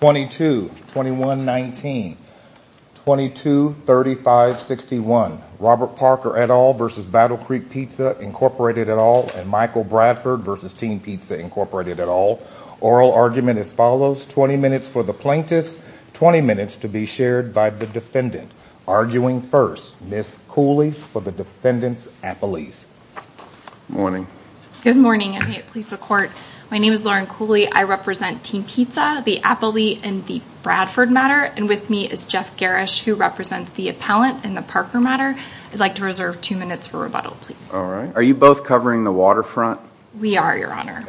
22-21-19 22-35-61 Robert Parker et al. versus Battle Creek Pizza Incorporated et al. and Michael Bradford versus Team Pizza Incorporated et al. Oral argument as follows, 20 minutes for the plaintiffs, 20 minutes to be shared by the defendant. Arguing first, Ms. Cooley for the defendant's appellees. Good morning. Good morning and may it please the court. My name is Lauren Cooley. I represent Team Pizza, the appellee in the Bradford matter and with me is Jeff Garrish who represents the appellant in the Parker matter. I'd like to reserve two minutes for rebuttal, please. Alright. Are you both covering the waterfront? We are, Your Honor.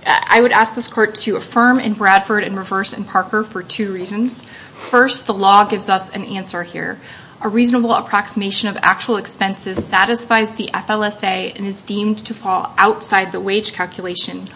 I would ask this court to affirm in Bradford and reverse in Parker for two reasons. First, the law gives us an answer here. A reasonable approximation of actual expenses satisfies the FLSA and is deemed to fall outside the wage calculation.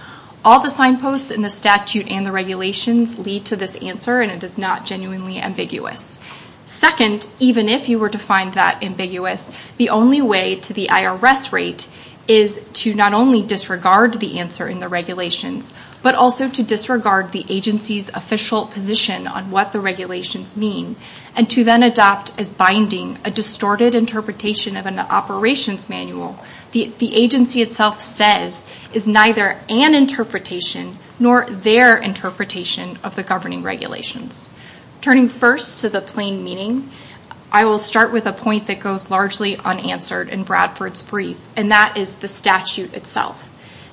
All the signposts in the statute and the regulations lead to this answer and it is not genuinely ambiguous. Second, even if you were to find that ambiguous, the only way to the IRS rate is to not only disregard the answer in the regulations but also to disregard the agency's official position on what the regulations mean and to then adopt as binding a distorted interpretation of an operations manual the agency itself says is neither an interpretation nor their interpretation of the governing regulations. Turning first to the plain meaning, I will start with a point that goes largely unanswered in Bradford's brief and that is the statute itself.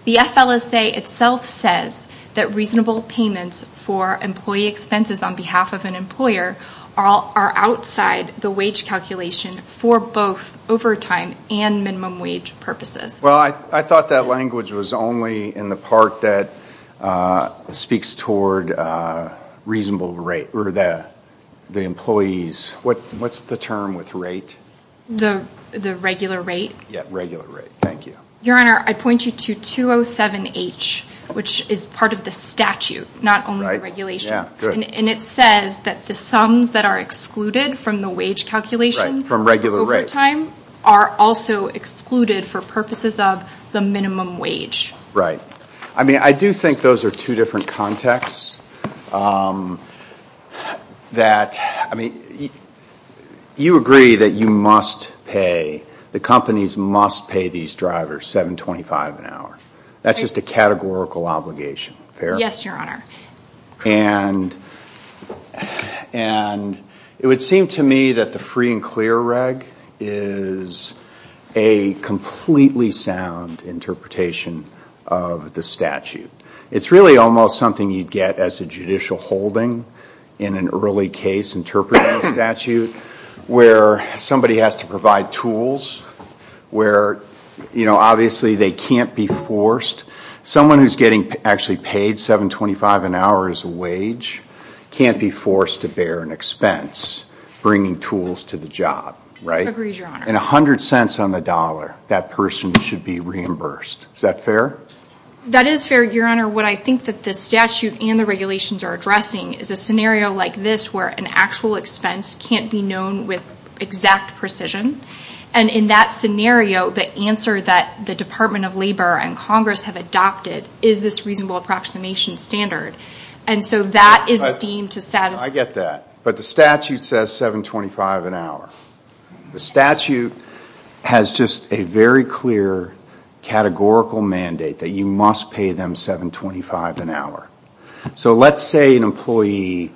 The FLSA itself says that reasonable payments for employee expenses on behalf of an employer are outside the wage calculation for both overtime and minimum wage purposes. Well, I thought that language was only in the part that speaks toward reasonable rate or the employees. What's the term with rate? The regular rate? Yeah, regular rate. Thank you. Your Honor, I point you to 207H which is part of the statute, not only the regulations, and it says that the sums that are excluded from the wage calculation from regular rate overtime are also excluded for purposes of the minimum wage. Right. I mean, I do think those are two different contexts that, I mean, you agree that you must pay, the companies must pay these drivers $7.25 an hour. That's just a categorical obligation. Fair? Yes, Your Honor. And it would seem to me that the free and clear reg is a completely sound interpretation of the statute. It's really almost something you'd get as a judicial holding in an early case interpreting a statute where somebody has to provide tools, where you know obviously they can't be forced. Someone who's getting actually paid $7.25 an hour as a wage can't be forced to bear an expense bringing tools to the job. Right? Agreed, Your Honor. And $0.10 on the dollar, that person should be reimbursed. Is that fair? That is fair, Your Honor. What I think that the statute and the regulations are addressing is a scenario like this where an actual expense can't be known with exact precision. And in that scenario, the answer that the Department of Labor and Congress have adopted is this reasonable approximation standard. And so that is deemed to satisfy. I get that. But the statute says $7.25 an hour. The statute has just a very clear categorical mandate that you must pay them $7.25 an hour. So let's say an employee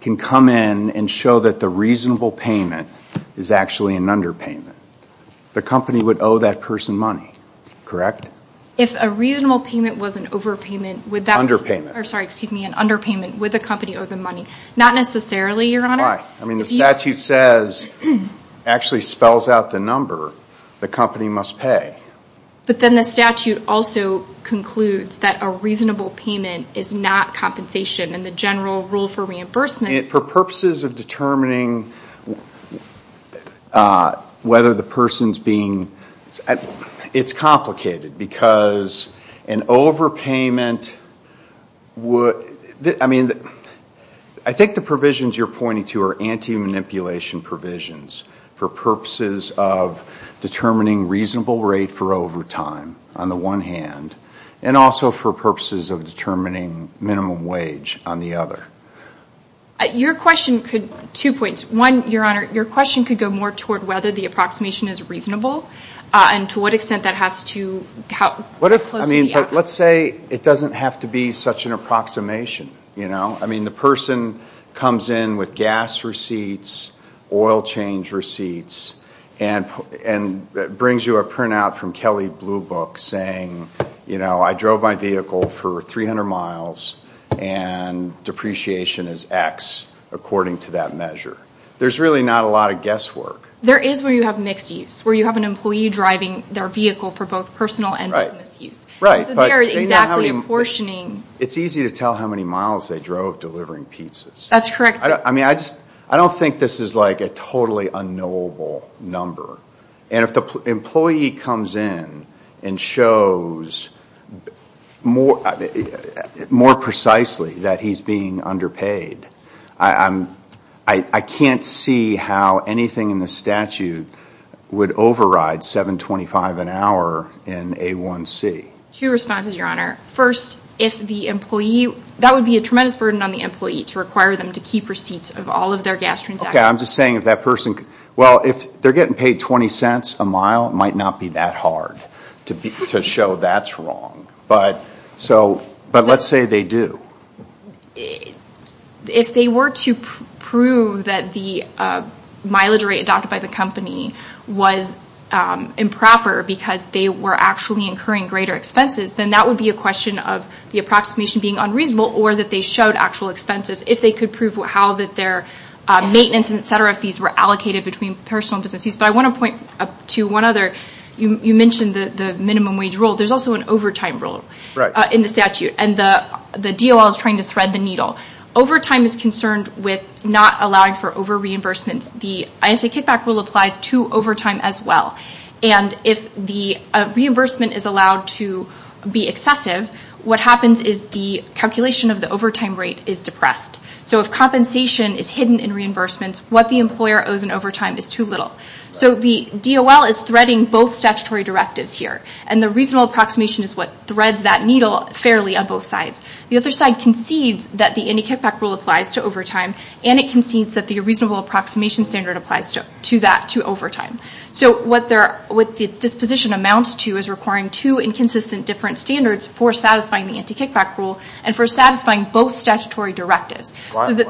can come in and show that a reasonable payment is actually an underpayment. The company would owe that person money, correct? If a reasonable payment was an underpayment, would the company owe them money? Not necessarily, Your Honor. Why? I mean the statute says, actually spells out the number the company must pay. But then the statute also concludes that a reasonable payment is not compensation and the general rule for reimbursement is... For purposes of determining whether the person's being...it's complicated because an overpayment would...I mean, I think the provisions you're pointing to are anti-manipulation provisions for purposes of determining reasonable rate for overtime, on the one hand, and also for purposes of determining minimum wage on the other. Your question could...two points. One, Your Honor, your question could go more toward whether the approximation is reasonable and to what extent that has to... What if, I mean, let's say it doesn't have to be such an approximation, you know? I mean the person comes in with gas receipts, oil change receipts, and brings you a printout from Kelley Blue Book saying, you know, I drove my vehicle for 300 miles and depreciation is X according to that measure. There's really not a lot of guesswork. There is where you have mixed use, where you have an employee driving their vehicle for both personal and business use. Right, right. So they are exactly apportioning... It's easy to tell how many miles they drove delivering pizzas. That's correct. I mean, I just...I don't think this is like a totally unknowable number. And if the employee comes in and shows more precisely that he's being underpaid, I can't see how anything in the statute would override $7.25 an hour in A1C. Two responses, Your Honor. First, if the employee...that would be a tremendous burden on the employee to require them to keep receipts of all of their gas transactions. I'm just saying if that person...well, if they're getting paid $0.20 a mile, it might not be that hard to show that's wrong. But let's say they do. If they were to prove that the mileage rate adopted by the company was improper because they were actually incurring greater expenses, then that would be a question of the approximation being unreasonable or that they showed actual expenses. If they could prove how their maintenance fees, et cetera, fees were allocated between personal and business fees. But I want to point to one other. You mentioned the minimum wage rule. There's also an overtime rule in the statute. And the DOL is trying to thread the needle. Overtime is concerned with not allowing for over-reimbursements. The I-ante kickback rule applies to overtime as well. And if the reimbursement is allowed to be excessive, what happens is the calculation of the overtime rate is depressed. So if compensation is hidden in reimbursements, what the employer owes in overtime is too little. So the DOL is threading both statutory directives here. And the reasonable approximation is what threads that needle fairly on both sides. The other side concedes that the I-ante kickback rule applies to overtime. And it concedes that the reasonable approximation standard applies to that, to overtime. So what this position amounts to is requiring two inconsistent different standards for satisfying the I-ante and satisfying both statutory directives. Why isn't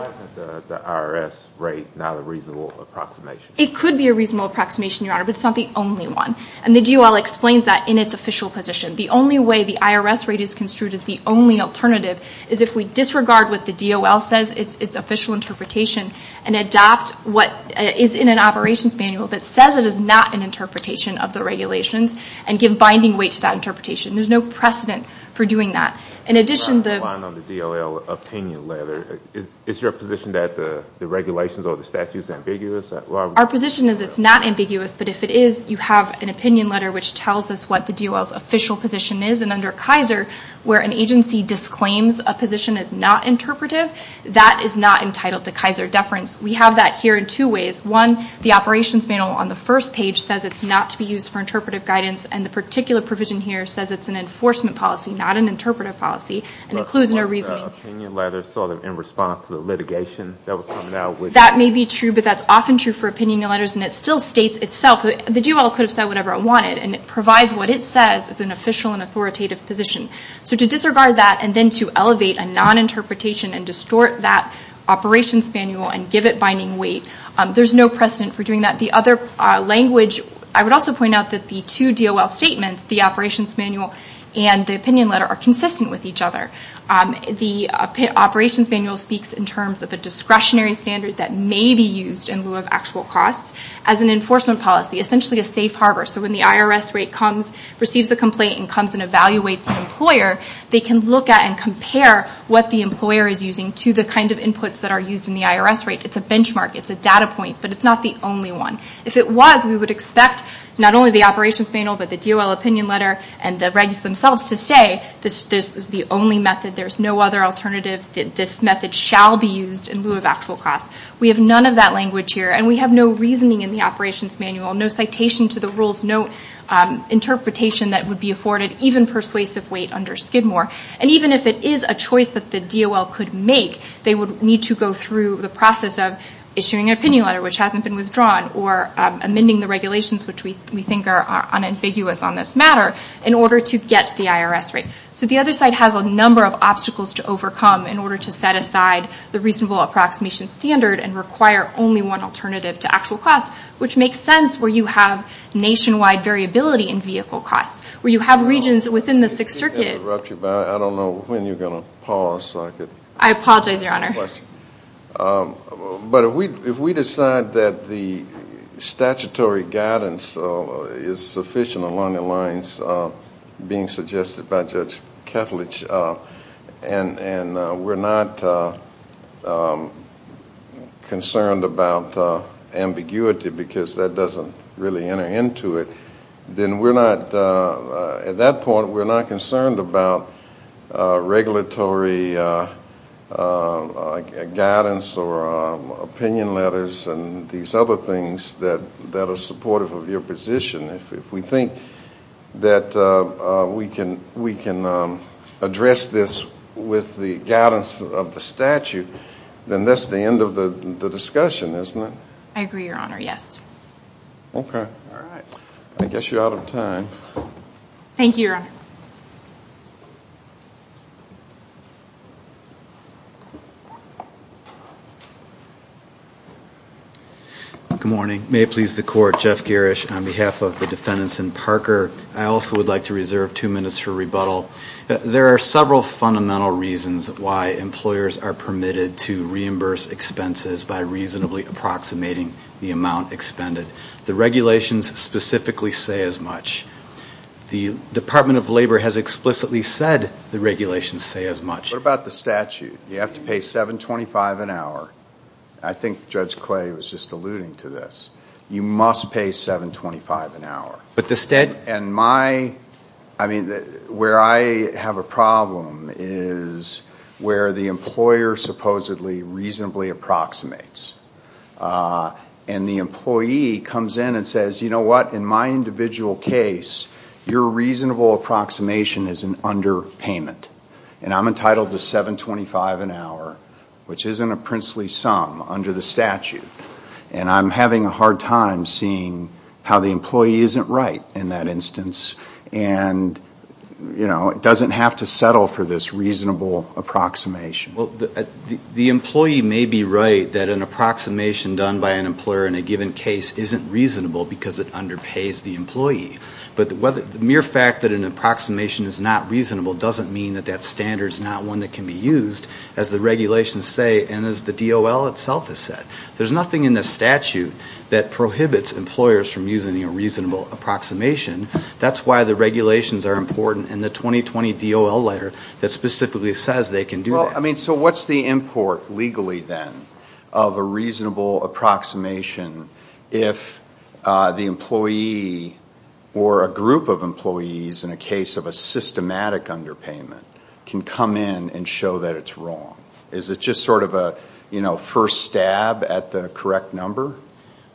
the IRS rate not a reasonable approximation? It could be a reasonable approximation, Your Honor, but it's not the only one. And the DOL explains that in its official position. The only way the IRS rate is construed as the only alternative is if we disregard what the DOL says, its official interpretation, and adopt what is in an operations manual that says it is not an interpretation of the regulations and give binding weight to that interpretation. There's no precedent for doing that. Your Honor, I'm relying on the DOL opinion letter. Is your position that the regulations or the statute is ambiguous? Our position is it's not ambiguous. But if it is, you have an opinion letter which tells us what the DOL's official position is. And under Kaiser, where an agency disclaims a position as not interpretive, that is not entitled to Kaiser deference. We have that here in two ways. One, the operations manual on the first page says it's not to be used for interpretive guidance. And the particular provision here says it's an enforcement policy, not an interpretive policy, and includes no reasoning. But wasn't the opinion letter sort of in response to the litigation that was coming out? That may be true, but that's often true for opinion letters. And it still states itself. The DOL could have said whatever it wanted. And it provides what it says. It's an official and authoritative position. So to disregard that and then to elevate a non-interpretation and distort that operations manual and give it binding weight, there's no precedent for doing that. The other language, I would also point out that the two DOL statements, the operations manual and the opinion letter, are consistent with each other. The operations manual speaks in terms of a discretionary standard that may be used in lieu of actual costs as an enforcement policy, essentially a safe harbor. So when the IRS rate comes, receives a complaint, and comes and evaluates an employer, they can look at and compare what the employer is using to the kind of inputs that are used in the IRS rate. It's a benchmark. It's a data point. But it's not the only one. If it was, we would expect not only the operations manual, but the DOL opinion letter and the guidance themselves to say this is the only method. There's no other alternative. This method shall be used in lieu of actual costs. We have none of that language here. And we have no reasoning in the operations manual, no citation to the rules, no interpretation that would be afforded, even persuasive weight under Skidmore. And even if it is a choice that the DOL could make, they would need to go through the process of issuing an opinion letter, which hasn't been withdrawn, or amending the regulations, which we think are unambiguous on this matter, in order to get to the IRS rate. So the other side has a number of obstacles to overcome in order to set aside the reasonable approximation standard and require only one alternative to actual costs, which makes sense where you have nationwide variability in vehicle costs, where you have regions within the Sixth I don't know when you're going to pause. I apologize, Your Honor. But if we decide that the statutory guidance is sufficient along the lines being suggested by Judge Kethledge, and we're not concerned about ambiguity because that doesn't really enter into it, then at that point we're not concerned about regulatory guidance or opinion letters and these other things that are supportive of your position. If we think that we can address this with the guidance of the statute, then that's the end of the discussion, isn't it? I agree, Your Honor, yes. Okay. All right. I guess you're out of time. Thank you, Your Honor. Good morning. May it please the Court, Jeff Garish, on behalf of the defendants and Parker, I also would like to reserve two minutes for rebuttal. There are several fundamental reasons why employers are permitted to reimburse expenses by reasonably approximating the amount expended. The regulations specifically say as much. The Department of Labor has explicitly said the regulations say as much. What about the statute? You have to pay $7.25 an hour. I think Judge Clay was just alluding to this. You must pay $7.25 an hour. But the statute... Where I have a problem is where the employer supposedly reasonably approximates. The employee comes in and says, you know what? In my individual case, your reasonable approximation is an underpayment. I'm entitled to $7.25 an hour, which isn't a princely sum under the statute. And I'm having a hard time seeing how the employee isn't right in that instance. And, you know, it doesn't have to settle for this reasonable approximation. Well, the employee may be right that an approximation done by an employer in a given case isn't reasonable because it underpays the employee. But the mere fact that an approximation is not reasonable doesn't mean that that standard is not one that can be used, as the regulations say and as the DOL itself has said. There's nothing in the statute that prohibits employers from using a reasonable approximation. That's why the regulations are important and the 2020 DOL letter that specifically says they can do that. Well, I mean, so what's the import legally then of a reasonable approximation if the employee or a group of employees in a case of a systematic underpayment can come in and show that it's wrong? Is it just sort of a, you know, first stab at the correct number?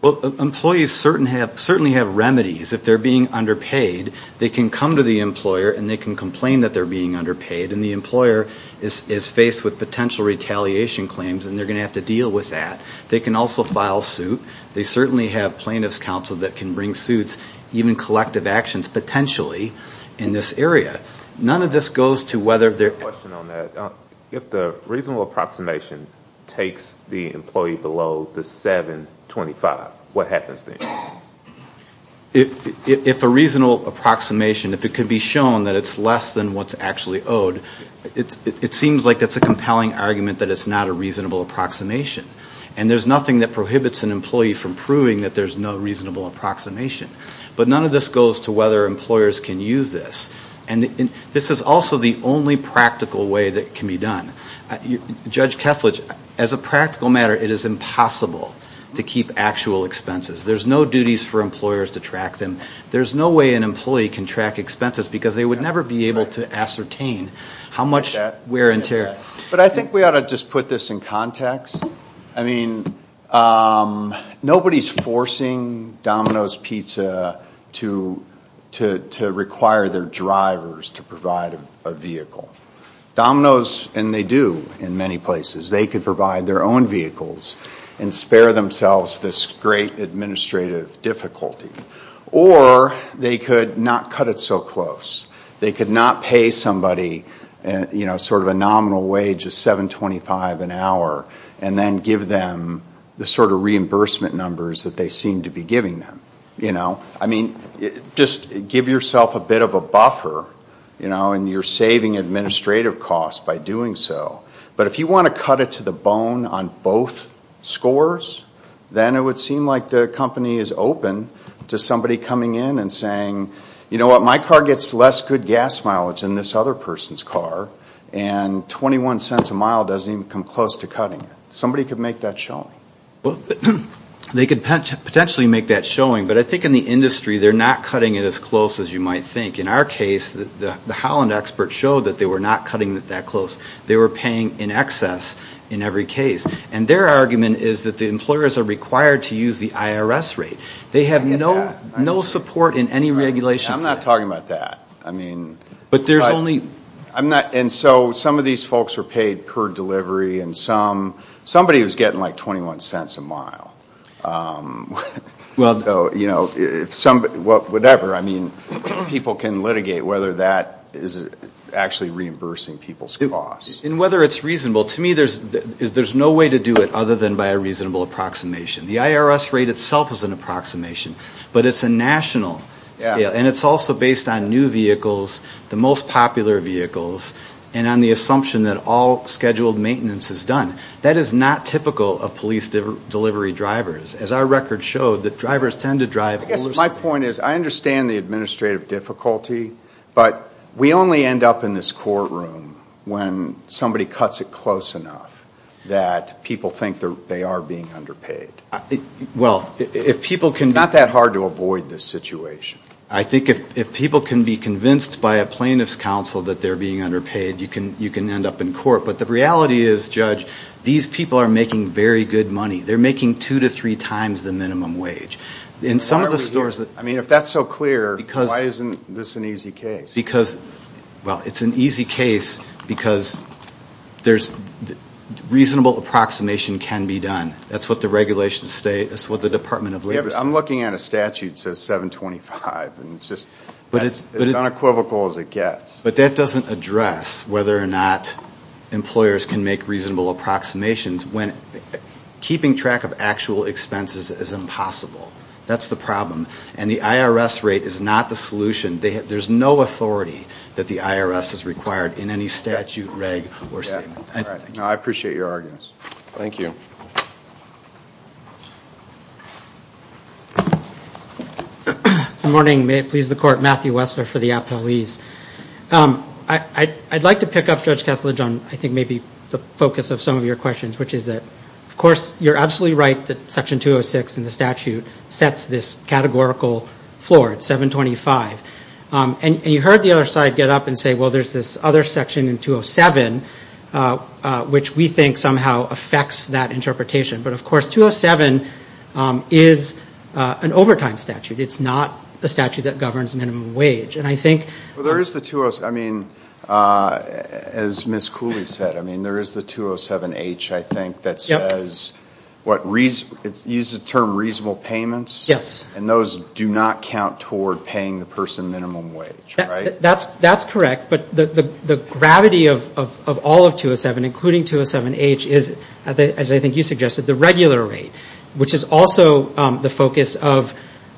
Well, employees certainly have remedies. If they're being underpaid, they can come to the employer and they can complain that they're being underpaid and the employer is faced with potential retaliation claims and they're going to have to deal with that. They can also file suit. They certainly have plaintiff's counsel that can bring suits, even collective actions potentially in this area. None of this goes to whether they're... I have a question on that. If the reasonable approximation takes the employee below the 725, what happens then? If a reasonable approximation, if it can be shown that it's less than what's actually owed, it seems like it's a compelling argument that it's not a reasonable approximation and there's nothing that prohibits an employee from proving that there's no reasonable approximation. But none of this goes to whether employers can use this. And this is also the only practical way that it can be done. Judge Kethledge, as a practical matter, it is impossible to keep actual expenses. There's no duties for employers to track them. There's no way an employee can track expenses because they would never be able to ascertain how much wear and tear... But I think we ought to just put this in context. I mean, nobody's forcing Domino's Pizza to require their drivers to provide a vehicle. Domino's, and they do in many places, they could provide their own vehicles and spare themselves this great administrative difficulty. Or they could not cut it so close. They could not pay somebody, you know, sort of a nominal wage of 725 an hour and then give them the sort of reimbursement numbers that they seem to be giving them. You know, I mean, just give yourself a bit of a buffer, you know, and you're saving administrative costs by doing so. But if you want to cut it to the bone on both scores, then it would seem like the company is open to somebody coming in and saying, you know what, my car gets less good gas mileage than this other person's car and 21 cents a mile doesn't even come close to cutting it. Somebody could make that showing. Well, they could potentially make that showing, but I think in the industry they're not cutting it as close as you might think. In our case, the Holland expert showed that they were not cutting it that close. They were paying in excess in every case. And their argument is that the employers are required to use the IRS rate. They have no support in any regulation. I'm not talking about that. I mean... But there's only... I'm not... And so some of these folks were paid per delivery and some, somebody was getting like 21 cents a mile. Well... So, you know, if somebody... Well, whatever, I mean, people can litigate whether that is actually reimbursing people's costs. And whether it's reasonable. To me, there's no way to do it other than by a reasonable approximation. The IRS rate itself is an approximation, but it's a national scale. And it's also based on new vehicles, the most popular vehicles, and on the assumption that all scheduled maintenance is done. That is not typical of police delivery drivers. As our record showed, the drivers tend to drive... I guess my point is, I understand the administrative difficulty, but we only end up in this courtroom when somebody cuts it close enough that people think they are being underpaid. Well, if people can... It's not that hard to avoid this situation. I think if people can be convinced by a plaintiff's counsel that they're being underpaid, you can end up in court. But the reality is, Judge, these people are making very good money. They're making two to three times the minimum wage. In some of the stores that... I mean, if that's so clear, why isn't this an easy case? Because, well, it's an easy case because there's, reasonable approximation can be done. That's what the regulations say. That's what the Department of Labor says. I'm looking at a statute that says $725,000, and it's just as unequivocal as it gets. But that doesn't address whether or not employers can make reasonable approximations when keeping track of actual expenses is impossible. That's the problem. And the IRS rate is not the solution. There's no authority that the IRS is required in any statute, reg, or statement. All right. No, I appreciate your arguments. Thank you. Good morning. May it please the court, Matthew Wessler for the Appellees. I'd like to pick up, Judge Kethledge, on, I think, maybe the focus of some of your questions, which is that, of course, you're absolutely right that Section 206 in the statute sets this categorical floor, it's $725,000. And you heard the other side get up and say, well, there's this other section in 207, which we think somehow affects that interpretation. But, of course, 207 is an overtime statute. It's not a statute that governs minimum wage. And I think... Well, there is the 207. I mean, as Ms. Cooley said, I mean, there is the 207-H, I think, that says, what, it uses the term reasonable payments? Yes. And those do not count toward paying the person minimum wage, right? That's correct. But the gravity of all of 207, including 207-H, is, as I think you suggested, the regular rate, which is also the focus of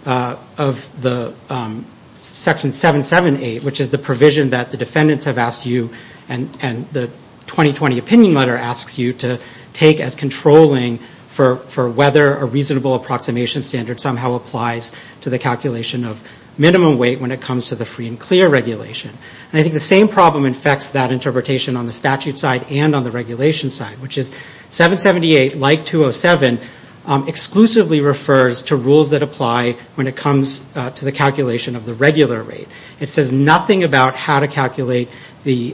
the Section 778, which is the provision that the defendants have asked you and the 2020 opinion letter asks you to take as controlling for whether a reasonable approximation standard somehow applies to the calculation of minimum weight when it comes to the free and clear regulation. And I think the same problem affects that interpretation on the statute side and on the regulation side, which is 778, like 207, exclusively refers to rules that apply when it comes to the calculation of the regular rate. It says nothing about how to calculate the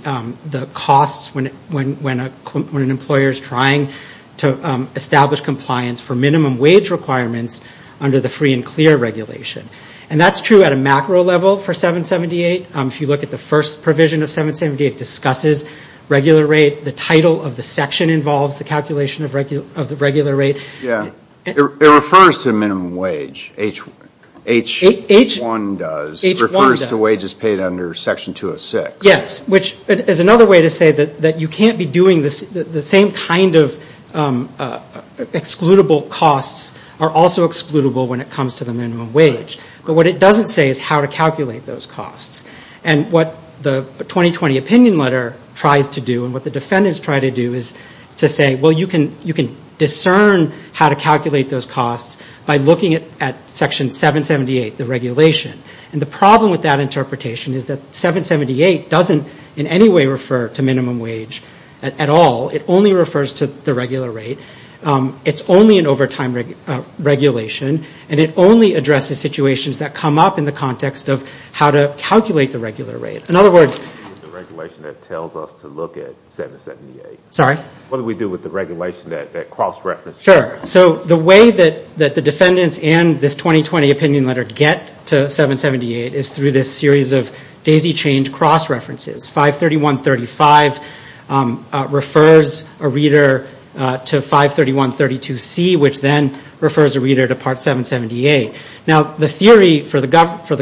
costs when an employer is trying to establish compliance for minimum wage requirements under the free and clear regulation. And that's true at a macro level for 778. If you look at the first provision of 778, it discusses regular rate. The title of the section involves the calculation of the regular rate. Yeah, it refers to minimum wage, H1 does. It refers to wages paid under Section 206. Yes, which is another way to say that you can't be doing the same kind of excludable costs are also excludable when it comes to the minimum wage. But what it doesn't say is how to calculate those costs. And what the 2020 opinion letter tries to do and what the defendants try to do is to say, well, you can discern how to calculate those costs by looking at Section 778, the regulation. And the problem with that interpretation is that 778 doesn't in any way refer to minimum wage at all. It only refers to the regular rate. It's only an overtime regulation. And it only addresses situations that come up in the context of how to calculate the regular rate. In other words. The regulation that tells us to look at 778. Sorry? What do we do with the regulation that cross-references? Sure. So the way that the defendants and this 2020 opinion letter get to 778 is through this series of daisy-chained cross-references. 531.35 refers a reader to 531.32c, which then refers a reader to Part 778. Now the theory for the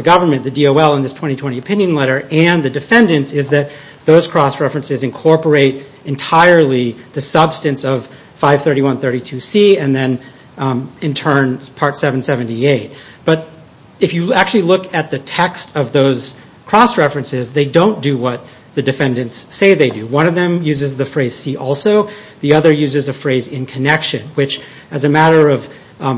government, the DOL in this 2020 opinion letter and the defendants is that those cross-references incorporate entirely the substance of 531.32c and then in turn Part 778. But if you actually look at the text of those cross-references, they don't do what the defendants say they do. One of them uses the phrase see also. The other uses a phrase in connection. Which as a matter of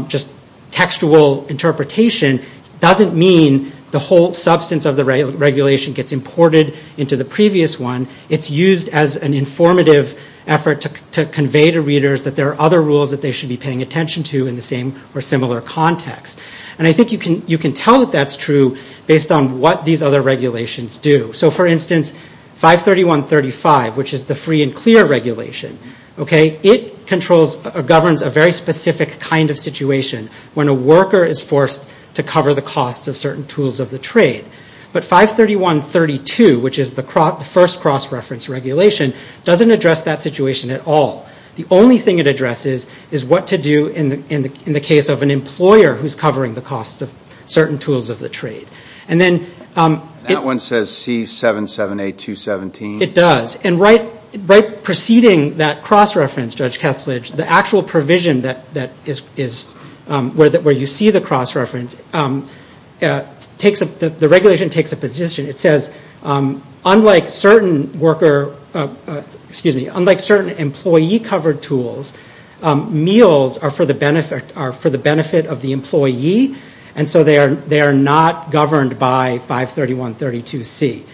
just textual interpretation doesn't mean the whole substance of the regulation gets imported into the previous one. It's used as an informative effort to convey to readers that there are other rules that they should be paying attention to in the same or similar context. And I think you can tell that that's true based on what these other regulations do. So for instance, 531.35, which is the free and clear regulation. It controls or governs a very specific kind of situation when a worker is forced to cover the cost of certain tools of the trade. But 531.32, which is the first cross-reference regulation, doesn't address that situation at all. The only thing it addresses is what to do in the case of an employer who's covering the cost of certain tools of the trade. And then... That one says C778.217. It does. And right preceding that cross-reference, Judge Kethledge, the actual provision that is where you see the cross-reference, the regulation takes a position. It says unlike certain worker, excuse me, unlike certain employee covered tools, meals are for the benefit of the employee. And so they are not governed by 531.32C.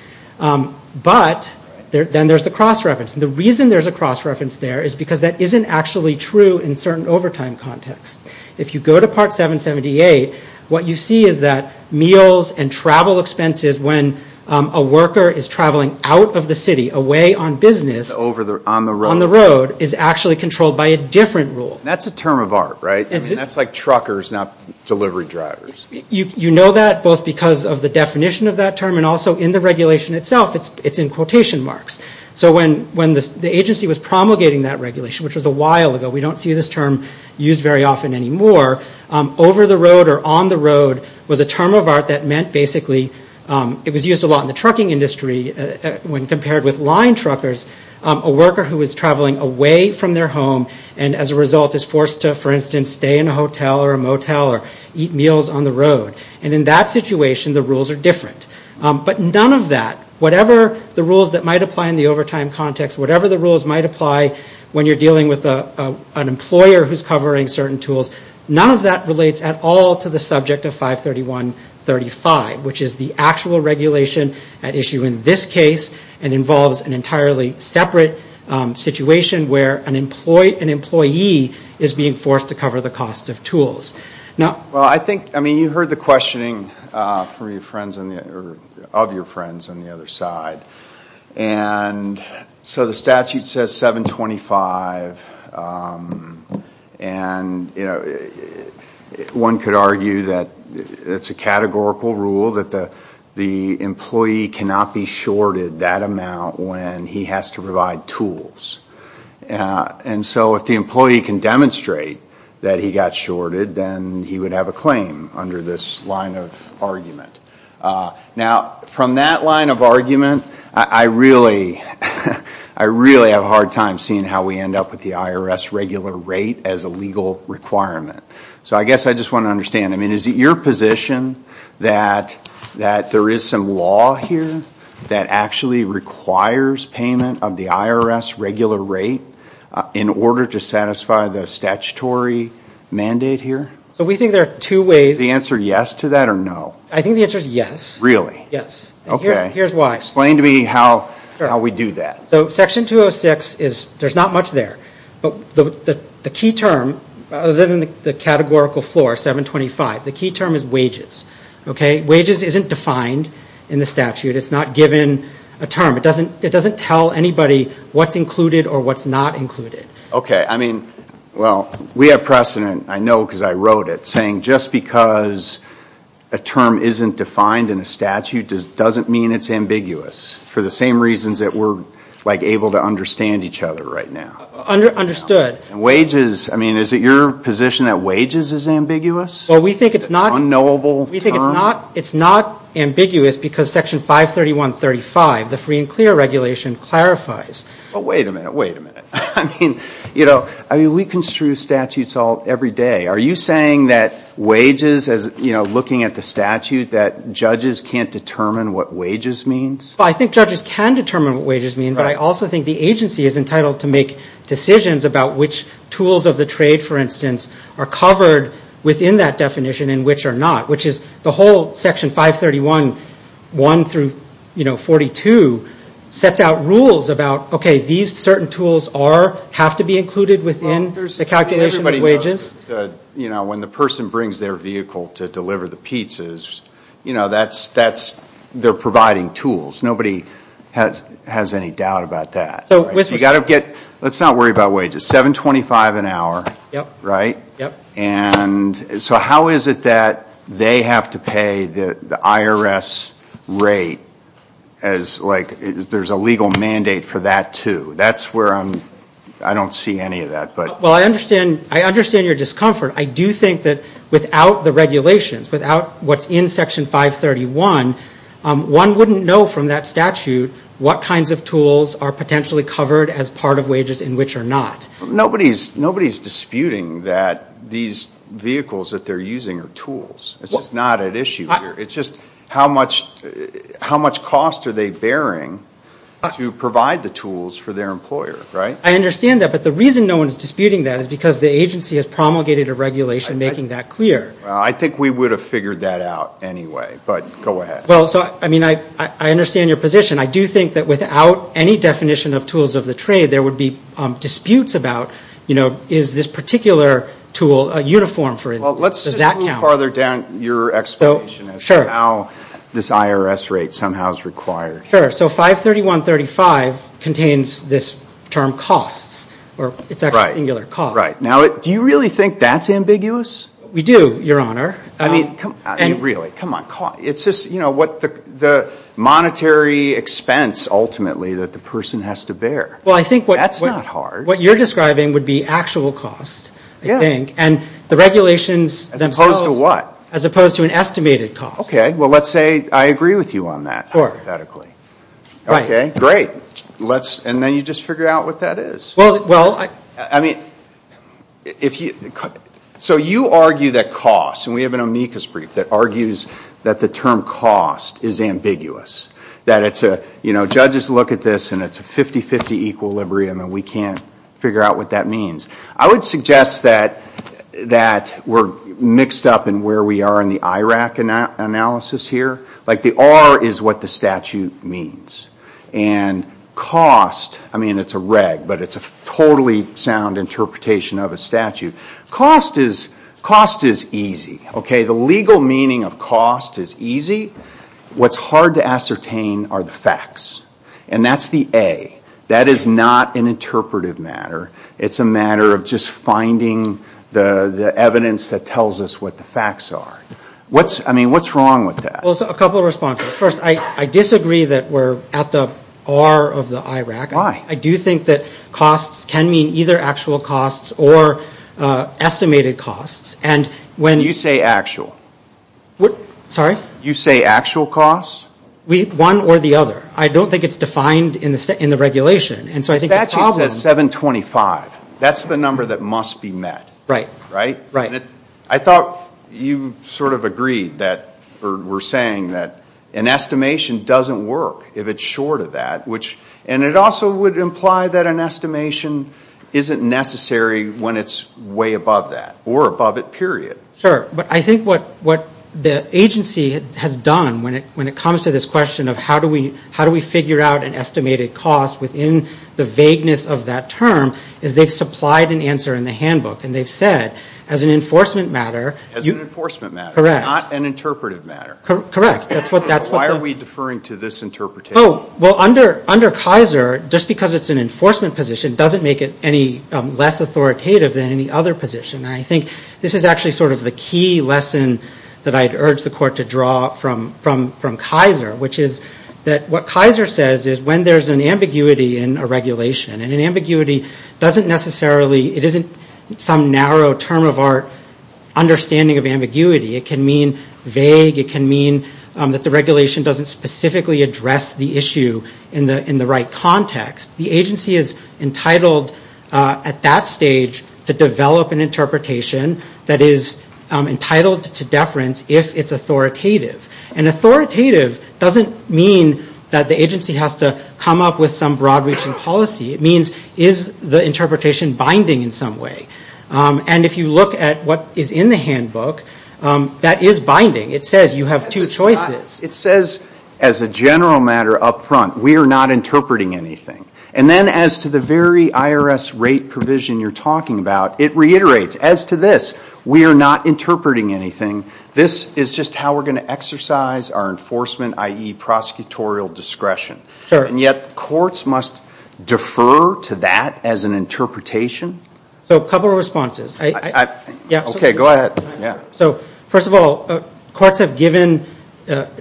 But then there's the cross-reference. And the reason there's a cross-reference there is because that isn't actually true in certain overtime contexts. If you go to Part 778, what you see is that meals and travel expenses when a worker is traveling out of the city, away on business, on the road, is actually controlled by a different rule. That's a term of art, right? I mean, that's like truckers, not delivery drivers. You know that both because of the definition of that term and also in the regulation itself, it's in quotation marks. So when the agency was promulgating that regulation, which was a while ago, we don't see this term used very often anymore, over the road or on the road was a term of art that meant basically it was used a lot in the trucking industry when compared with line truckers, a worker who is traveling away from their home and as a result is forced to, for instance, stay in a hotel or a motel or eat meals on the road. And in that situation, the rules are different. But none of that, whatever the rules that might apply in the overtime context, whatever the rules might apply when you're dealing with an employer who's covering certain tools, none of that relates at all to the subject of 531.35, which is the actual regulation at issue in this case and involves an entirely separate situation where an employee is being forced to cover the cost of tools. Now, I think, I mean, you heard the questioning of your friends on the other side. And so the statute says 725 and, you know, one could argue that it's a categorical rule that the employee cannot be shorted that amount when he has to provide tools. And so if the employee can demonstrate that he got shorted, then he would have a claim under this line of argument. Now, from that line of argument, I really have a hard time seeing how we end up with the IRS regular rate as a legal requirement. So I guess I just want to understand, I mean, is it your position that there is some law here that actually requires payment of the IRS regular rate in order to satisfy the statutory mandate here? So we think there are two ways. Is the answer yes to that or no? I think the answer is yes. Really? Yes. Okay. Here's why. Explain to me how we do that. So Section 206 is, there's not much there. But the key term, other than the categorical floor, 725, the key term is wages. Okay? Wages isn't defined in the statute. It's not given a term. It doesn't tell anybody what's included or what's not included. Okay. I mean, well, we have precedent, I know because I wrote it, saying just because a term isn't defined in a statute doesn't mean it's ambiguous for the same reasons that we're, like, able to understand each other right now. Understood. Wages, I mean, is it your position that wages is ambiguous? Well, we think it's not. Unknowable term? We think it's not. It's not ambiguous because Section 531.35, the free and clear regulation, clarifies. Well, wait a minute. Wait a minute. I mean, you know, I mean, we construe statutes all, every day. Are you saying that wages, as, you know, looking at the statute, that judges can't determine what wages means? Well, I think judges can determine what wages mean. But I also think the agency is entitled to make decisions about which tools of the trade, for instance, are covered within that definition and which are not, which is the whole Section 531.1 through, you know, 42, sets out rules about, okay, these certain tools are, have to be included within the calculation of wages. Well, there's, you know, everybody knows that, you know, when the person brings their vehicle to deliver the pizzas, you know, that's, that's, they're providing tools. Nobody has, has any doubt about that. So, we've got to get, let's not worry about wages. $7.25 an hour. Yep. Right? Yep. And so how is it that they have to pay the IRS rate as, like, there's a legal mandate for that too? That's where I'm, I don't see any of that, but. Well, I understand, I understand your discomfort. I do think that without the regulations, without what's in Section 531, one wouldn't know from that statute what kinds of tools are potentially covered as part of wages and which are not. Nobody's, nobody's disputing that these vehicles that they're using are tools. It's just not at issue here. It's just how much, how much cost are they bearing to provide the tools for their employer, right? I understand that, but the reason no one's disputing that is because the agency has promulgated a regulation making that clear. Well, I think we would have figured that out anyway, but go ahead. Well, so, I mean, I understand your position. I do think that without any definition of tools of the trade, there would be disputes about, you know, is this particular tool a uniform, for instance, does that count? Well, let's move farther down your explanation as to how this IRS rate somehow is required. Sure, so 531.35 contains this term costs, or it's actually singular, costs. Right, right. Now, do you really think that's ambiguous? We do, your honor. I mean, really, come on, it's just, you know, what the monetary expense, ultimately, that the person has to bear. Well, I think what you're describing would be actual cost, I think, and the regulations themselves, as opposed to an estimated cost. Okay, well, let's say I agree with you on that, hypothetically. Okay, great. Let's, and then you just figure out what that is. Well, I mean, if you, so you argue that cost, and we have an amicus brief that argues that the term cost is ambiguous, that it's a, you know, judges look at this, and it's a 50-50 equilibrium, and we can't figure out what that means. I would suggest that we're mixed up in where we are in the IRAC analysis here. Like, the R is what the statute means, and cost, I mean, it's a reg, but it's a totally sound interpretation of a statute. Cost is, cost is easy. Okay, the legal meaning of cost is easy. What's hard to ascertain are the facts, and that's the A. That is not an interpretive matter. It's a matter of just finding the evidence that tells us what the facts are. What's, I mean, what's wrong with that? Well, a couple of responses. First, I disagree that we're at the R of the IRAC. Why? I do think that costs can mean either actual costs or estimated costs, and when. You say actual. What, sorry? You say actual costs? We, one or the other. I don't think it's defined in the regulation, and so I think the problem. The statute says 725. That's the number that must be met. Right. Right? Right. I thought you sort of agreed that, or were saying that an estimation doesn't work if it's short of that, which, and it also would imply that an estimation isn't necessary when it's way above that, or above it, period. Sure, but I think what the agency has done when it comes to this question of how do we figure out an estimated cost within the vagueness of that term, is they've supplied an answer in the handbook, and they've said, as an enforcement matter. As an enforcement matter. Correct. Not an interpretive matter. Correct. That's what the. Why are we deferring to this interpretation? Well, under Kaiser, just because it's an enforcement position doesn't make it any less authoritative than any other position. I think this is actually sort of the key lesson that I'd urge the court to draw from Kaiser, which is that what Kaiser says is when there's an ambiguity in a regulation, and an ambiguity doesn't necessarily, it isn't some narrow term of our understanding of ambiguity. It can mean vague. It can mean that the regulation doesn't specifically address the issue in the right context. The agency is entitled at that stage to develop an interpretation that is entitled to deference if it's authoritative. And authoritative doesn't mean that the agency has to come up with some broad-reaching policy. It means, is the interpretation binding in some way? And if you look at what is in the handbook, that is binding. It says you have two choices. It says as a general matter up front, we are not interpreting anything. And then as to the very IRS rate provision you're talking about, it reiterates, as to this, we are not interpreting anything. This is just how we're going to exercise our enforcement, i.e. prosecutorial discretion. And yet courts must defer to that as an interpretation? So a couple of responses. Okay, go ahead. So first of all, courts have given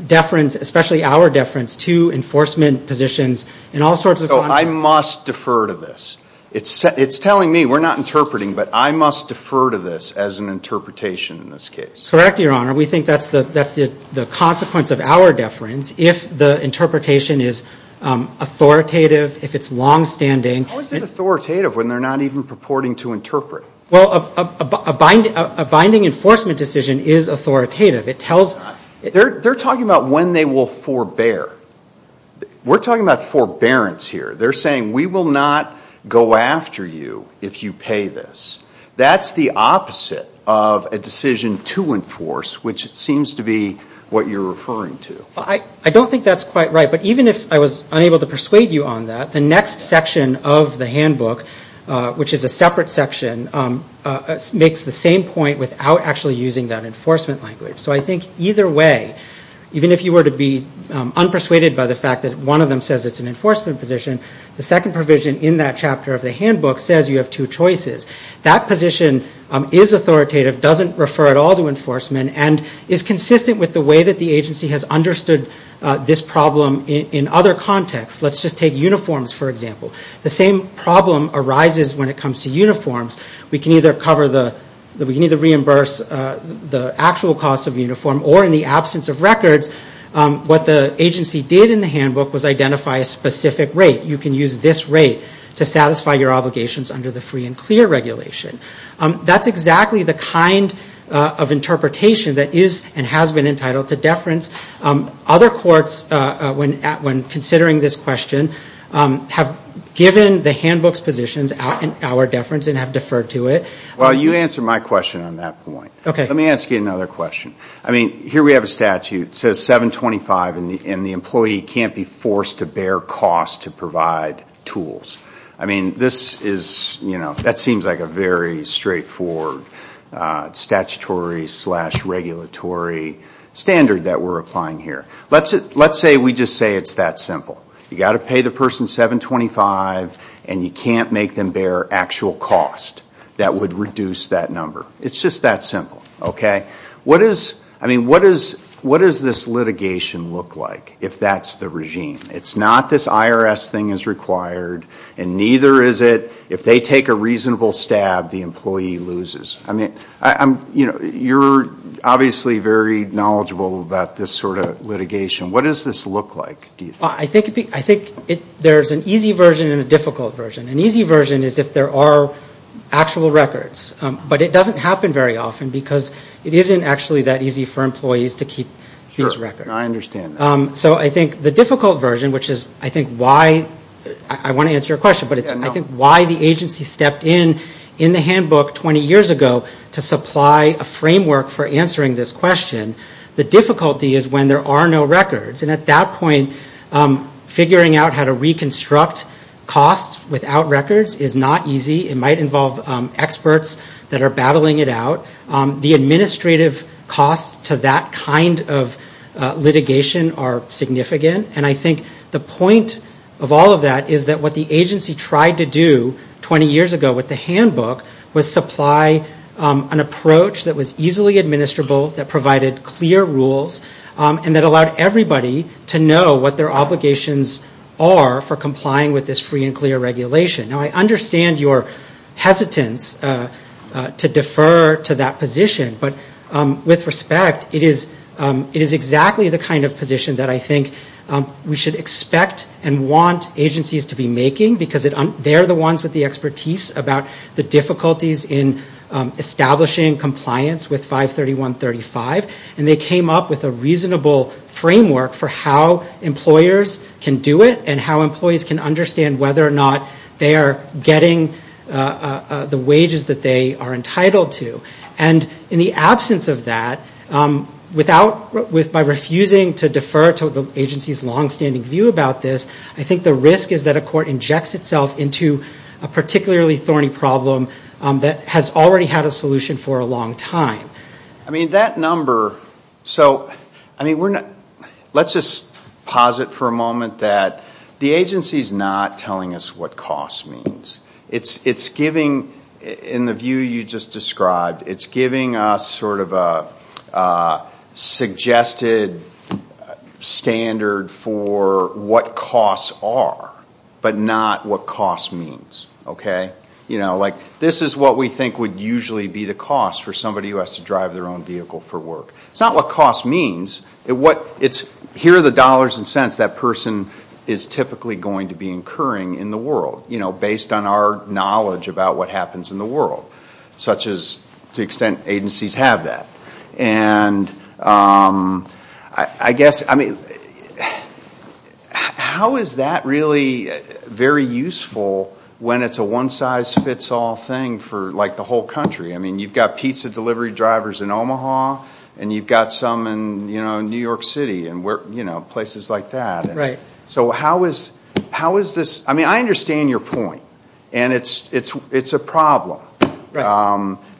deference, especially our deference, to enforcement positions in all sorts of contexts. So I must defer to this. It's telling me we're not interpreting, but I must defer to this as an interpretation in this case. Correct, Your Honor. We think that's the consequence of our deference if the interpretation is authoritative, if it's longstanding. How is it authoritative when they're not even purporting to interpret? Well, a binding enforcement decision is authoritative. It tells... They're talking about when they will forbear. We're talking about forbearance here. They're saying we will not go after you if you pay this. That's the opposite of a decision to enforce, which seems to be what you're referring to. I don't think that's quite right. But even if I was unable to persuade you on that, the next section of the handbook, which is a separate section, makes the same point without actually using that enforcement language. So I think either way, even if you were to be unpersuaded by the fact that one of them says it's an enforcement position, the second provision in that chapter of the handbook says you have two choices. That position is authoritative, doesn't refer at all to enforcement, and is consistent with the way that the agency has understood this problem in other contexts. Let's just take uniforms, for example. The same problem arises when it comes to uniforms. We can either reimburse the actual cost of uniform or, in the absence of records, what the agency did in the handbook was identify a specific rate. You can use this rate to satisfy your obligations under the free and clear regulation. That's exactly the kind of interpretation that is and has been entitled to deference. Other courts, when considering this question, have given the handbook's positions our deference and have deferred to it. Well, you answered my question on that point. OK. Let me ask you another question. I mean, here we have a statute that says $725, and the employee can't be forced to bear cost to provide tools. I mean, this is, you know, that seems like a very straightforward statutory slash regulatory standard that we're applying here. Let's say we just say it's that simple. You got to pay the person $725, and you can't make them bear actual cost that would reduce that number. It's just that simple. OK? What is, I mean, what does this litigation look like if that's the regime? It's not this IRS thing is required, and neither is it if they take a reasonable stab, the employee loses. I mean, I'm, you know, you're obviously very knowledgeable about this sort of litigation. What does this look like, do you think? I think there's an easy version and a difficult version. An easy version is if there are actual records. But it doesn't happen very often because it isn't actually that easy for employees to keep these records. I understand that. So I think the difficult version, which is I think why, I want to answer your question, but it's I think why the agency stepped in in the handbook 20 years ago to supply a framework for answering this question. The difficulty is when there are no records. And at that point, figuring out how to reconstruct costs without records is not easy. It might involve experts that are battling it out. The administrative costs to that kind of litigation are significant. And I think the point of all of that is that what the agency tried to do 20 years ago with the handbook was supply an approach that was easily administrable, that provided clear rules, and that allowed everybody to know what their obligations are for complying with this free and clear regulation. Now, I understand your hesitance to defer to that position. But with respect, it is exactly the kind of position that I think we should expect and want agencies to be making because they're the ones with the expertise about the difficulties in establishing compliance with 531.35. And they came up with a reasonable framework for how employers can do it and how employees can understand whether or not they are getting the wages that they are entitled to. And in the absence of that, by refusing to defer to the agency's longstanding view about this, I think the risk is that a court injects itself into a particularly thorny problem that has already had a solution for a long time. I mean, that number, so, I mean, let's just posit for a moment that the agency is not telling us what cost means. It's giving, in the view you just described, it's giving us sort of a suggested standard for what costs are, but not what cost means, okay? You know, like, this is what we think would usually be the cost for somebody who has to drive their own vehicle for work. It's not what cost means. It's here are the dollars and cents that person is typically going to be incurring in the world, you know, based on our knowledge about what happens in the world, such as to the extent agencies have that. And I guess, I mean, how is that really very useful when it's a one size fits all thing for, like, the whole country? I mean, you've got pizza delivery drivers in Omaha, and you've got some in, you know, New York City, and, you know, places like that. And so how is this, I mean, I understand your point, and it's a problem,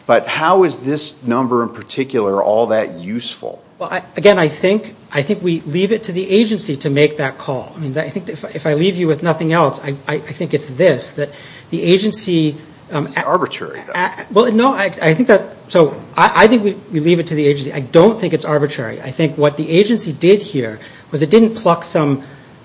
but how is this number in particular all that useful? Well, again, I think we leave it to the agency to make that call. I mean, I think if I leave you with nothing else, I think it's this, that the agency... It's arbitrary, though. Well, no, I think that, so I think we leave it to the agency. I don't think it's arbitrary. I think what the agency did here was it didn't pluck some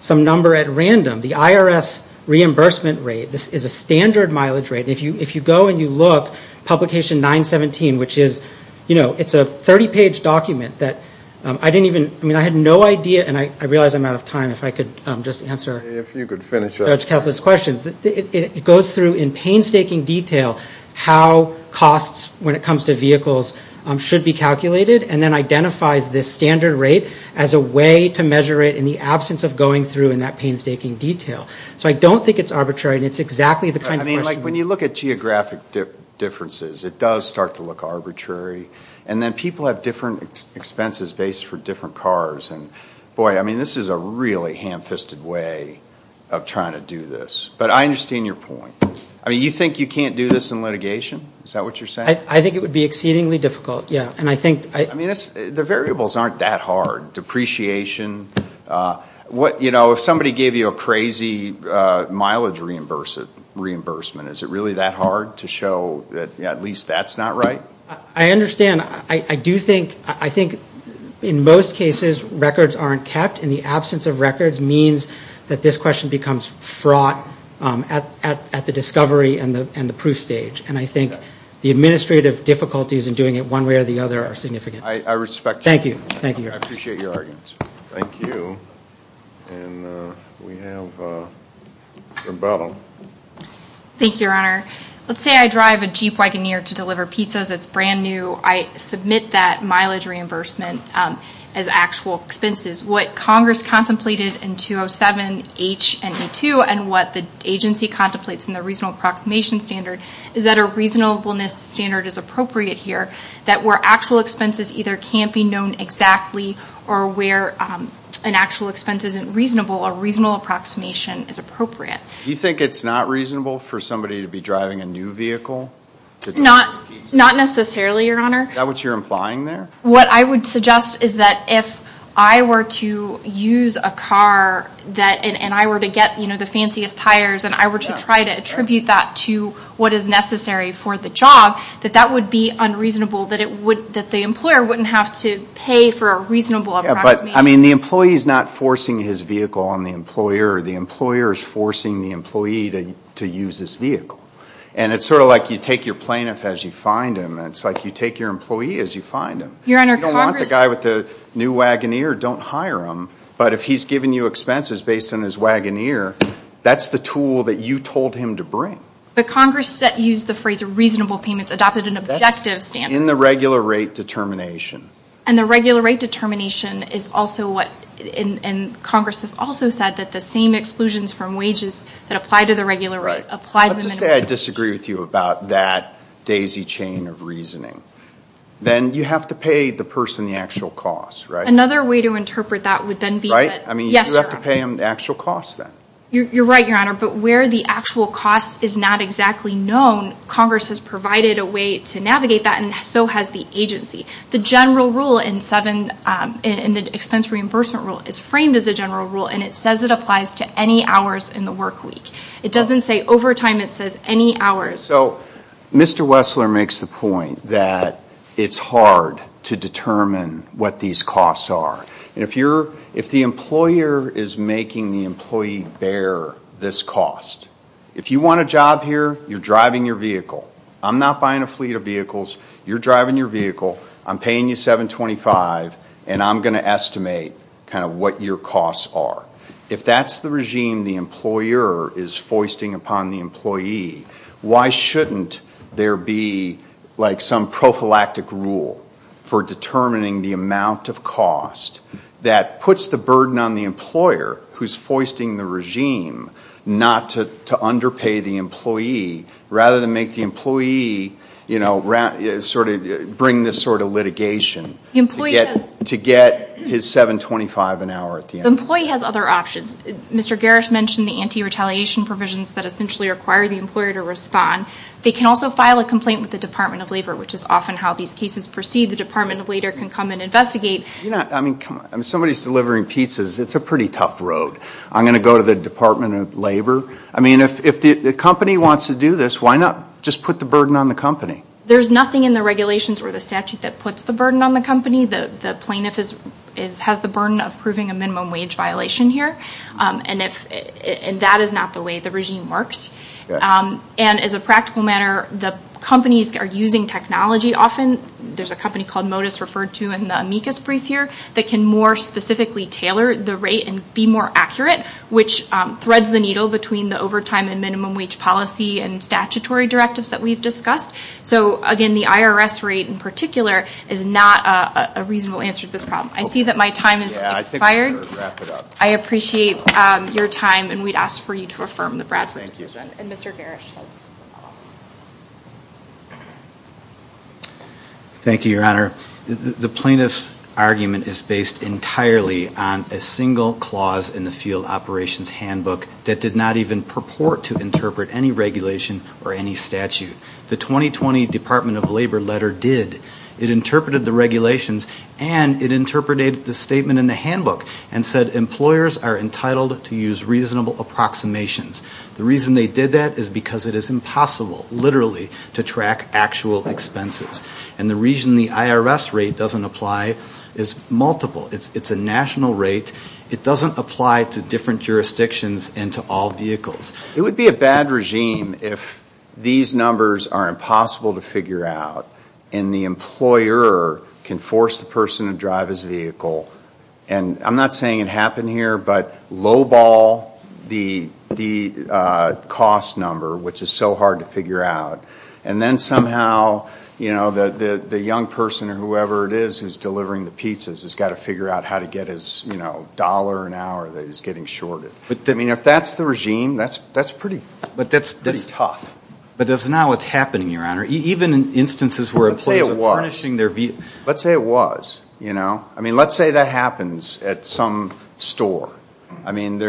number at random. The IRS reimbursement rate, this is a standard mileage rate. If you go and you look, publication 917, which is, you know, it's a 30-page document that I didn't even, I mean, I had no idea, and I realize I'm out of time. If I could just answer... If you could finish up. ...Judge Kethled's questions, it goes through in painstaking detail how costs when it comes to vehicles should be calculated, and then identifies this standard rate as a way to measure it in the absence of going through in that painstaking detail. So I don't think it's arbitrary, and it's exactly the kind of question... Mike, when you look at geographic differences, it does start to look arbitrary, and then people have different expenses based for different cars, and boy, I mean, this is a really ham-fisted way of trying to do this. But I understand your point. I mean, you think you can't do this in litigation? Is that what you're saying? I think it would be exceedingly difficult, yeah, and I think... I mean, the variables aren't that hard. Depreciation, what, you know, if somebody gave you a crazy mileage reimbursement, is it really that hard to show that at least that's not right? I understand. I do think, I think in most cases, records aren't kept, and the absence of records means that this question becomes fraught at the discovery and the proof stage, and I think the administrative difficulties in doing it one way or the other are significant. I respect you. Thank you. Thank you. I appreciate your arguments. Thank you, and we have Rebella. Thank you, Your Honor. Let's say I drive a Jeep Wagoneer to deliver pizzas. It's brand new. I submit that mileage reimbursement as actual expenses. What Congress contemplated in 207H and E2, and what the agency contemplates in the Reasonable Approximation Standard is that a reasonableness standard is appropriate here, that where actual expenses either can't be known exactly, or where an actual expense isn't reasonable, a reasonable approximation is appropriate. Do you think it's not reasonable for somebody to be driving a new vehicle? Not necessarily, Your Honor. Is that what you're implying there? What I would suggest is that if I were to use a car that, and I were to get, you know, the fanciest tires, and I were to try to attribute that to what is necessary for the job, that that would be unreasonable, that it would, that the employer wouldn't have to pay for a reasonable approximation. I mean, the employee is not forcing his vehicle on the employer. The employer is forcing the employee to use his vehicle. And it's sort of like you take your plaintiff as you find him. It's like you take your employee as you find him. You don't want the guy with the new Wagoneer, don't hire him. But if he's giving you expenses based on his Wagoneer, that's the tool that you told him to bring. But Congress said, used the phrase reasonable payments, adopted an objective standard. In the regular rate determination. And the regular rate determination is also what, and Congress has also said that the same exclusions from wages that apply to the regular rate apply to the minimum wage. Let's just say I disagree with you about that daisy chain of reasoning. Then you have to pay the person the actual cost, right? Another way to interpret that would then be that. Right? I mean, you have to pay them the actual cost then. You're right, Your Honor, but where the actual cost is not exactly known, Congress has provided a way to navigate that and so has the agency. The general rule in the expense reimbursement rule is framed as a general rule and it says it applies to any hours in the work week. It doesn't say overtime, it says any hours. So, Mr. Wessler makes the point that it's hard to determine what these costs are. If the employer is making the employee bear this cost, if you want a job here, you're driving your vehicle. I'm not buying a fleet of vehicles, you're driving your vehicle, I'm paying you $7.25 and I'm going to estimate kind of what your costs are. If that's the regime the employer is foisting upon the employee, why shouldn't there be like some prophylactic rule for determining the amount of cost that puts the burden on the employer who's foisting the regime not to underpay the employee rather than make the employee, you know, sort of bring this sort of litigation to get his $7.25 an hour? The employee has other options. Mr. Garrish mentioned the anti-retaliation provisions that essentially require the employer to respond. They can also file a complaint with the Department of Labor which is often how these cases proceed. The Department of Labor can come and investigate. You know, I mean, somebody's delivering pizzas, it's a pretty tough road. I'm going to go to the Department of Labor. I mean, if the company wants to do this, why not just put the burden on the company? There's nothing in the regulations or the statute that puts the burden on the company. The plaintiff has the burden of proving a minimum wage violation here and that is not the way the regime works. And as a practical matter, the companies are using technology often. There's a company called Modus referred to in the amicus brief here that can more specifically tailor the rate and be more accurate which threads the needle between the overtime and minimum wage policy and statutory directives that we've discussed. So again, the IRS rate in particular is not a reasonable answer to this problem. I see that my time has expired. I appreciate your time and we'd ask for you to affirm the Bradford. And Mr. Garish. Thank you, Your Honor. The plaintiff's argument is based entirely on a single clause in the field operations handbook that did not even purport to interpret any regulation or any statute. The 2020 Department of Labor letter did. It interpreted the regulations and it interpreted the statement in the handbook and said employers are entitled to use reasonable approximations. The reason they did that is because it is impossible, literally, to track actual expenses. And the reason the IRS rate doesn't apply is multiple. It's a national rate. It doesn't apply to different jurisdictions and to all vehicles. It would be a bad regime if these numbers are impossible to figure out and the employer can force the person to drive his vehicle. And I'm not saying it happened here, but low ball the cost number, which is so hard to figure out. And then somehow, you know, the young person or whoever it is who's delivering the pizzas has got to figure out how to get his, you know, dollar an hour that he's getting shorted. I mean, if that's the regime, that's pretty tough. But that's not what's happening, Your Honor. Even in instances where employers are furnishing their vehicles. Let's say it was. You know? I mean, let's say that happens at some store. I mean,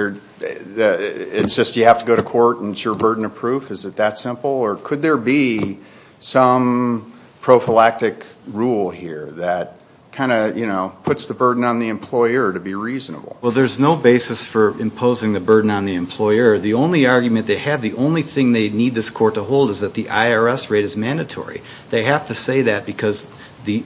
it's just you have to go to court and it's your burden of proof. Is it that simple? Or could there be some prophylactic rule here that kind of, you know, puts the burden on the employer to be reasonable? Well, there's no basis for imposing the burden on the employer. The only argument they have, the only thing they need this court to hold is that the IRS rate is mandatory. They have to say that because the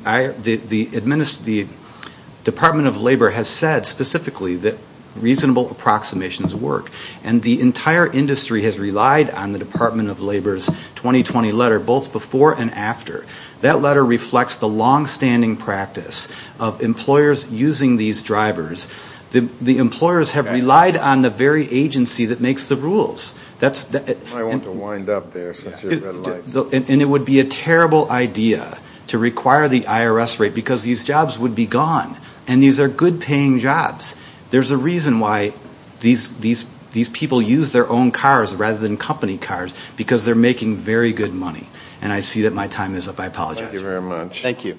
Department of Labor has said specifically that reasonable approximations work. And the entire industry has relied on the Department of Labor's 2020 letter, both before and after. That letter reflects the longstanding practice of employers using these drivers. The employers have relied on the very agency that makes the rules. That's the. I want to wind up there since you're red light. And it would be a terrible idea to require the IRS rate because these jobs would be gone. And these are good paying jobs. There's a reason why these people use their own cars rather than company cars because they're making very good money. And I see that my time is up. I apologize. Thank you very much. Thank you.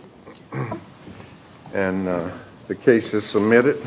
And the case is submitted.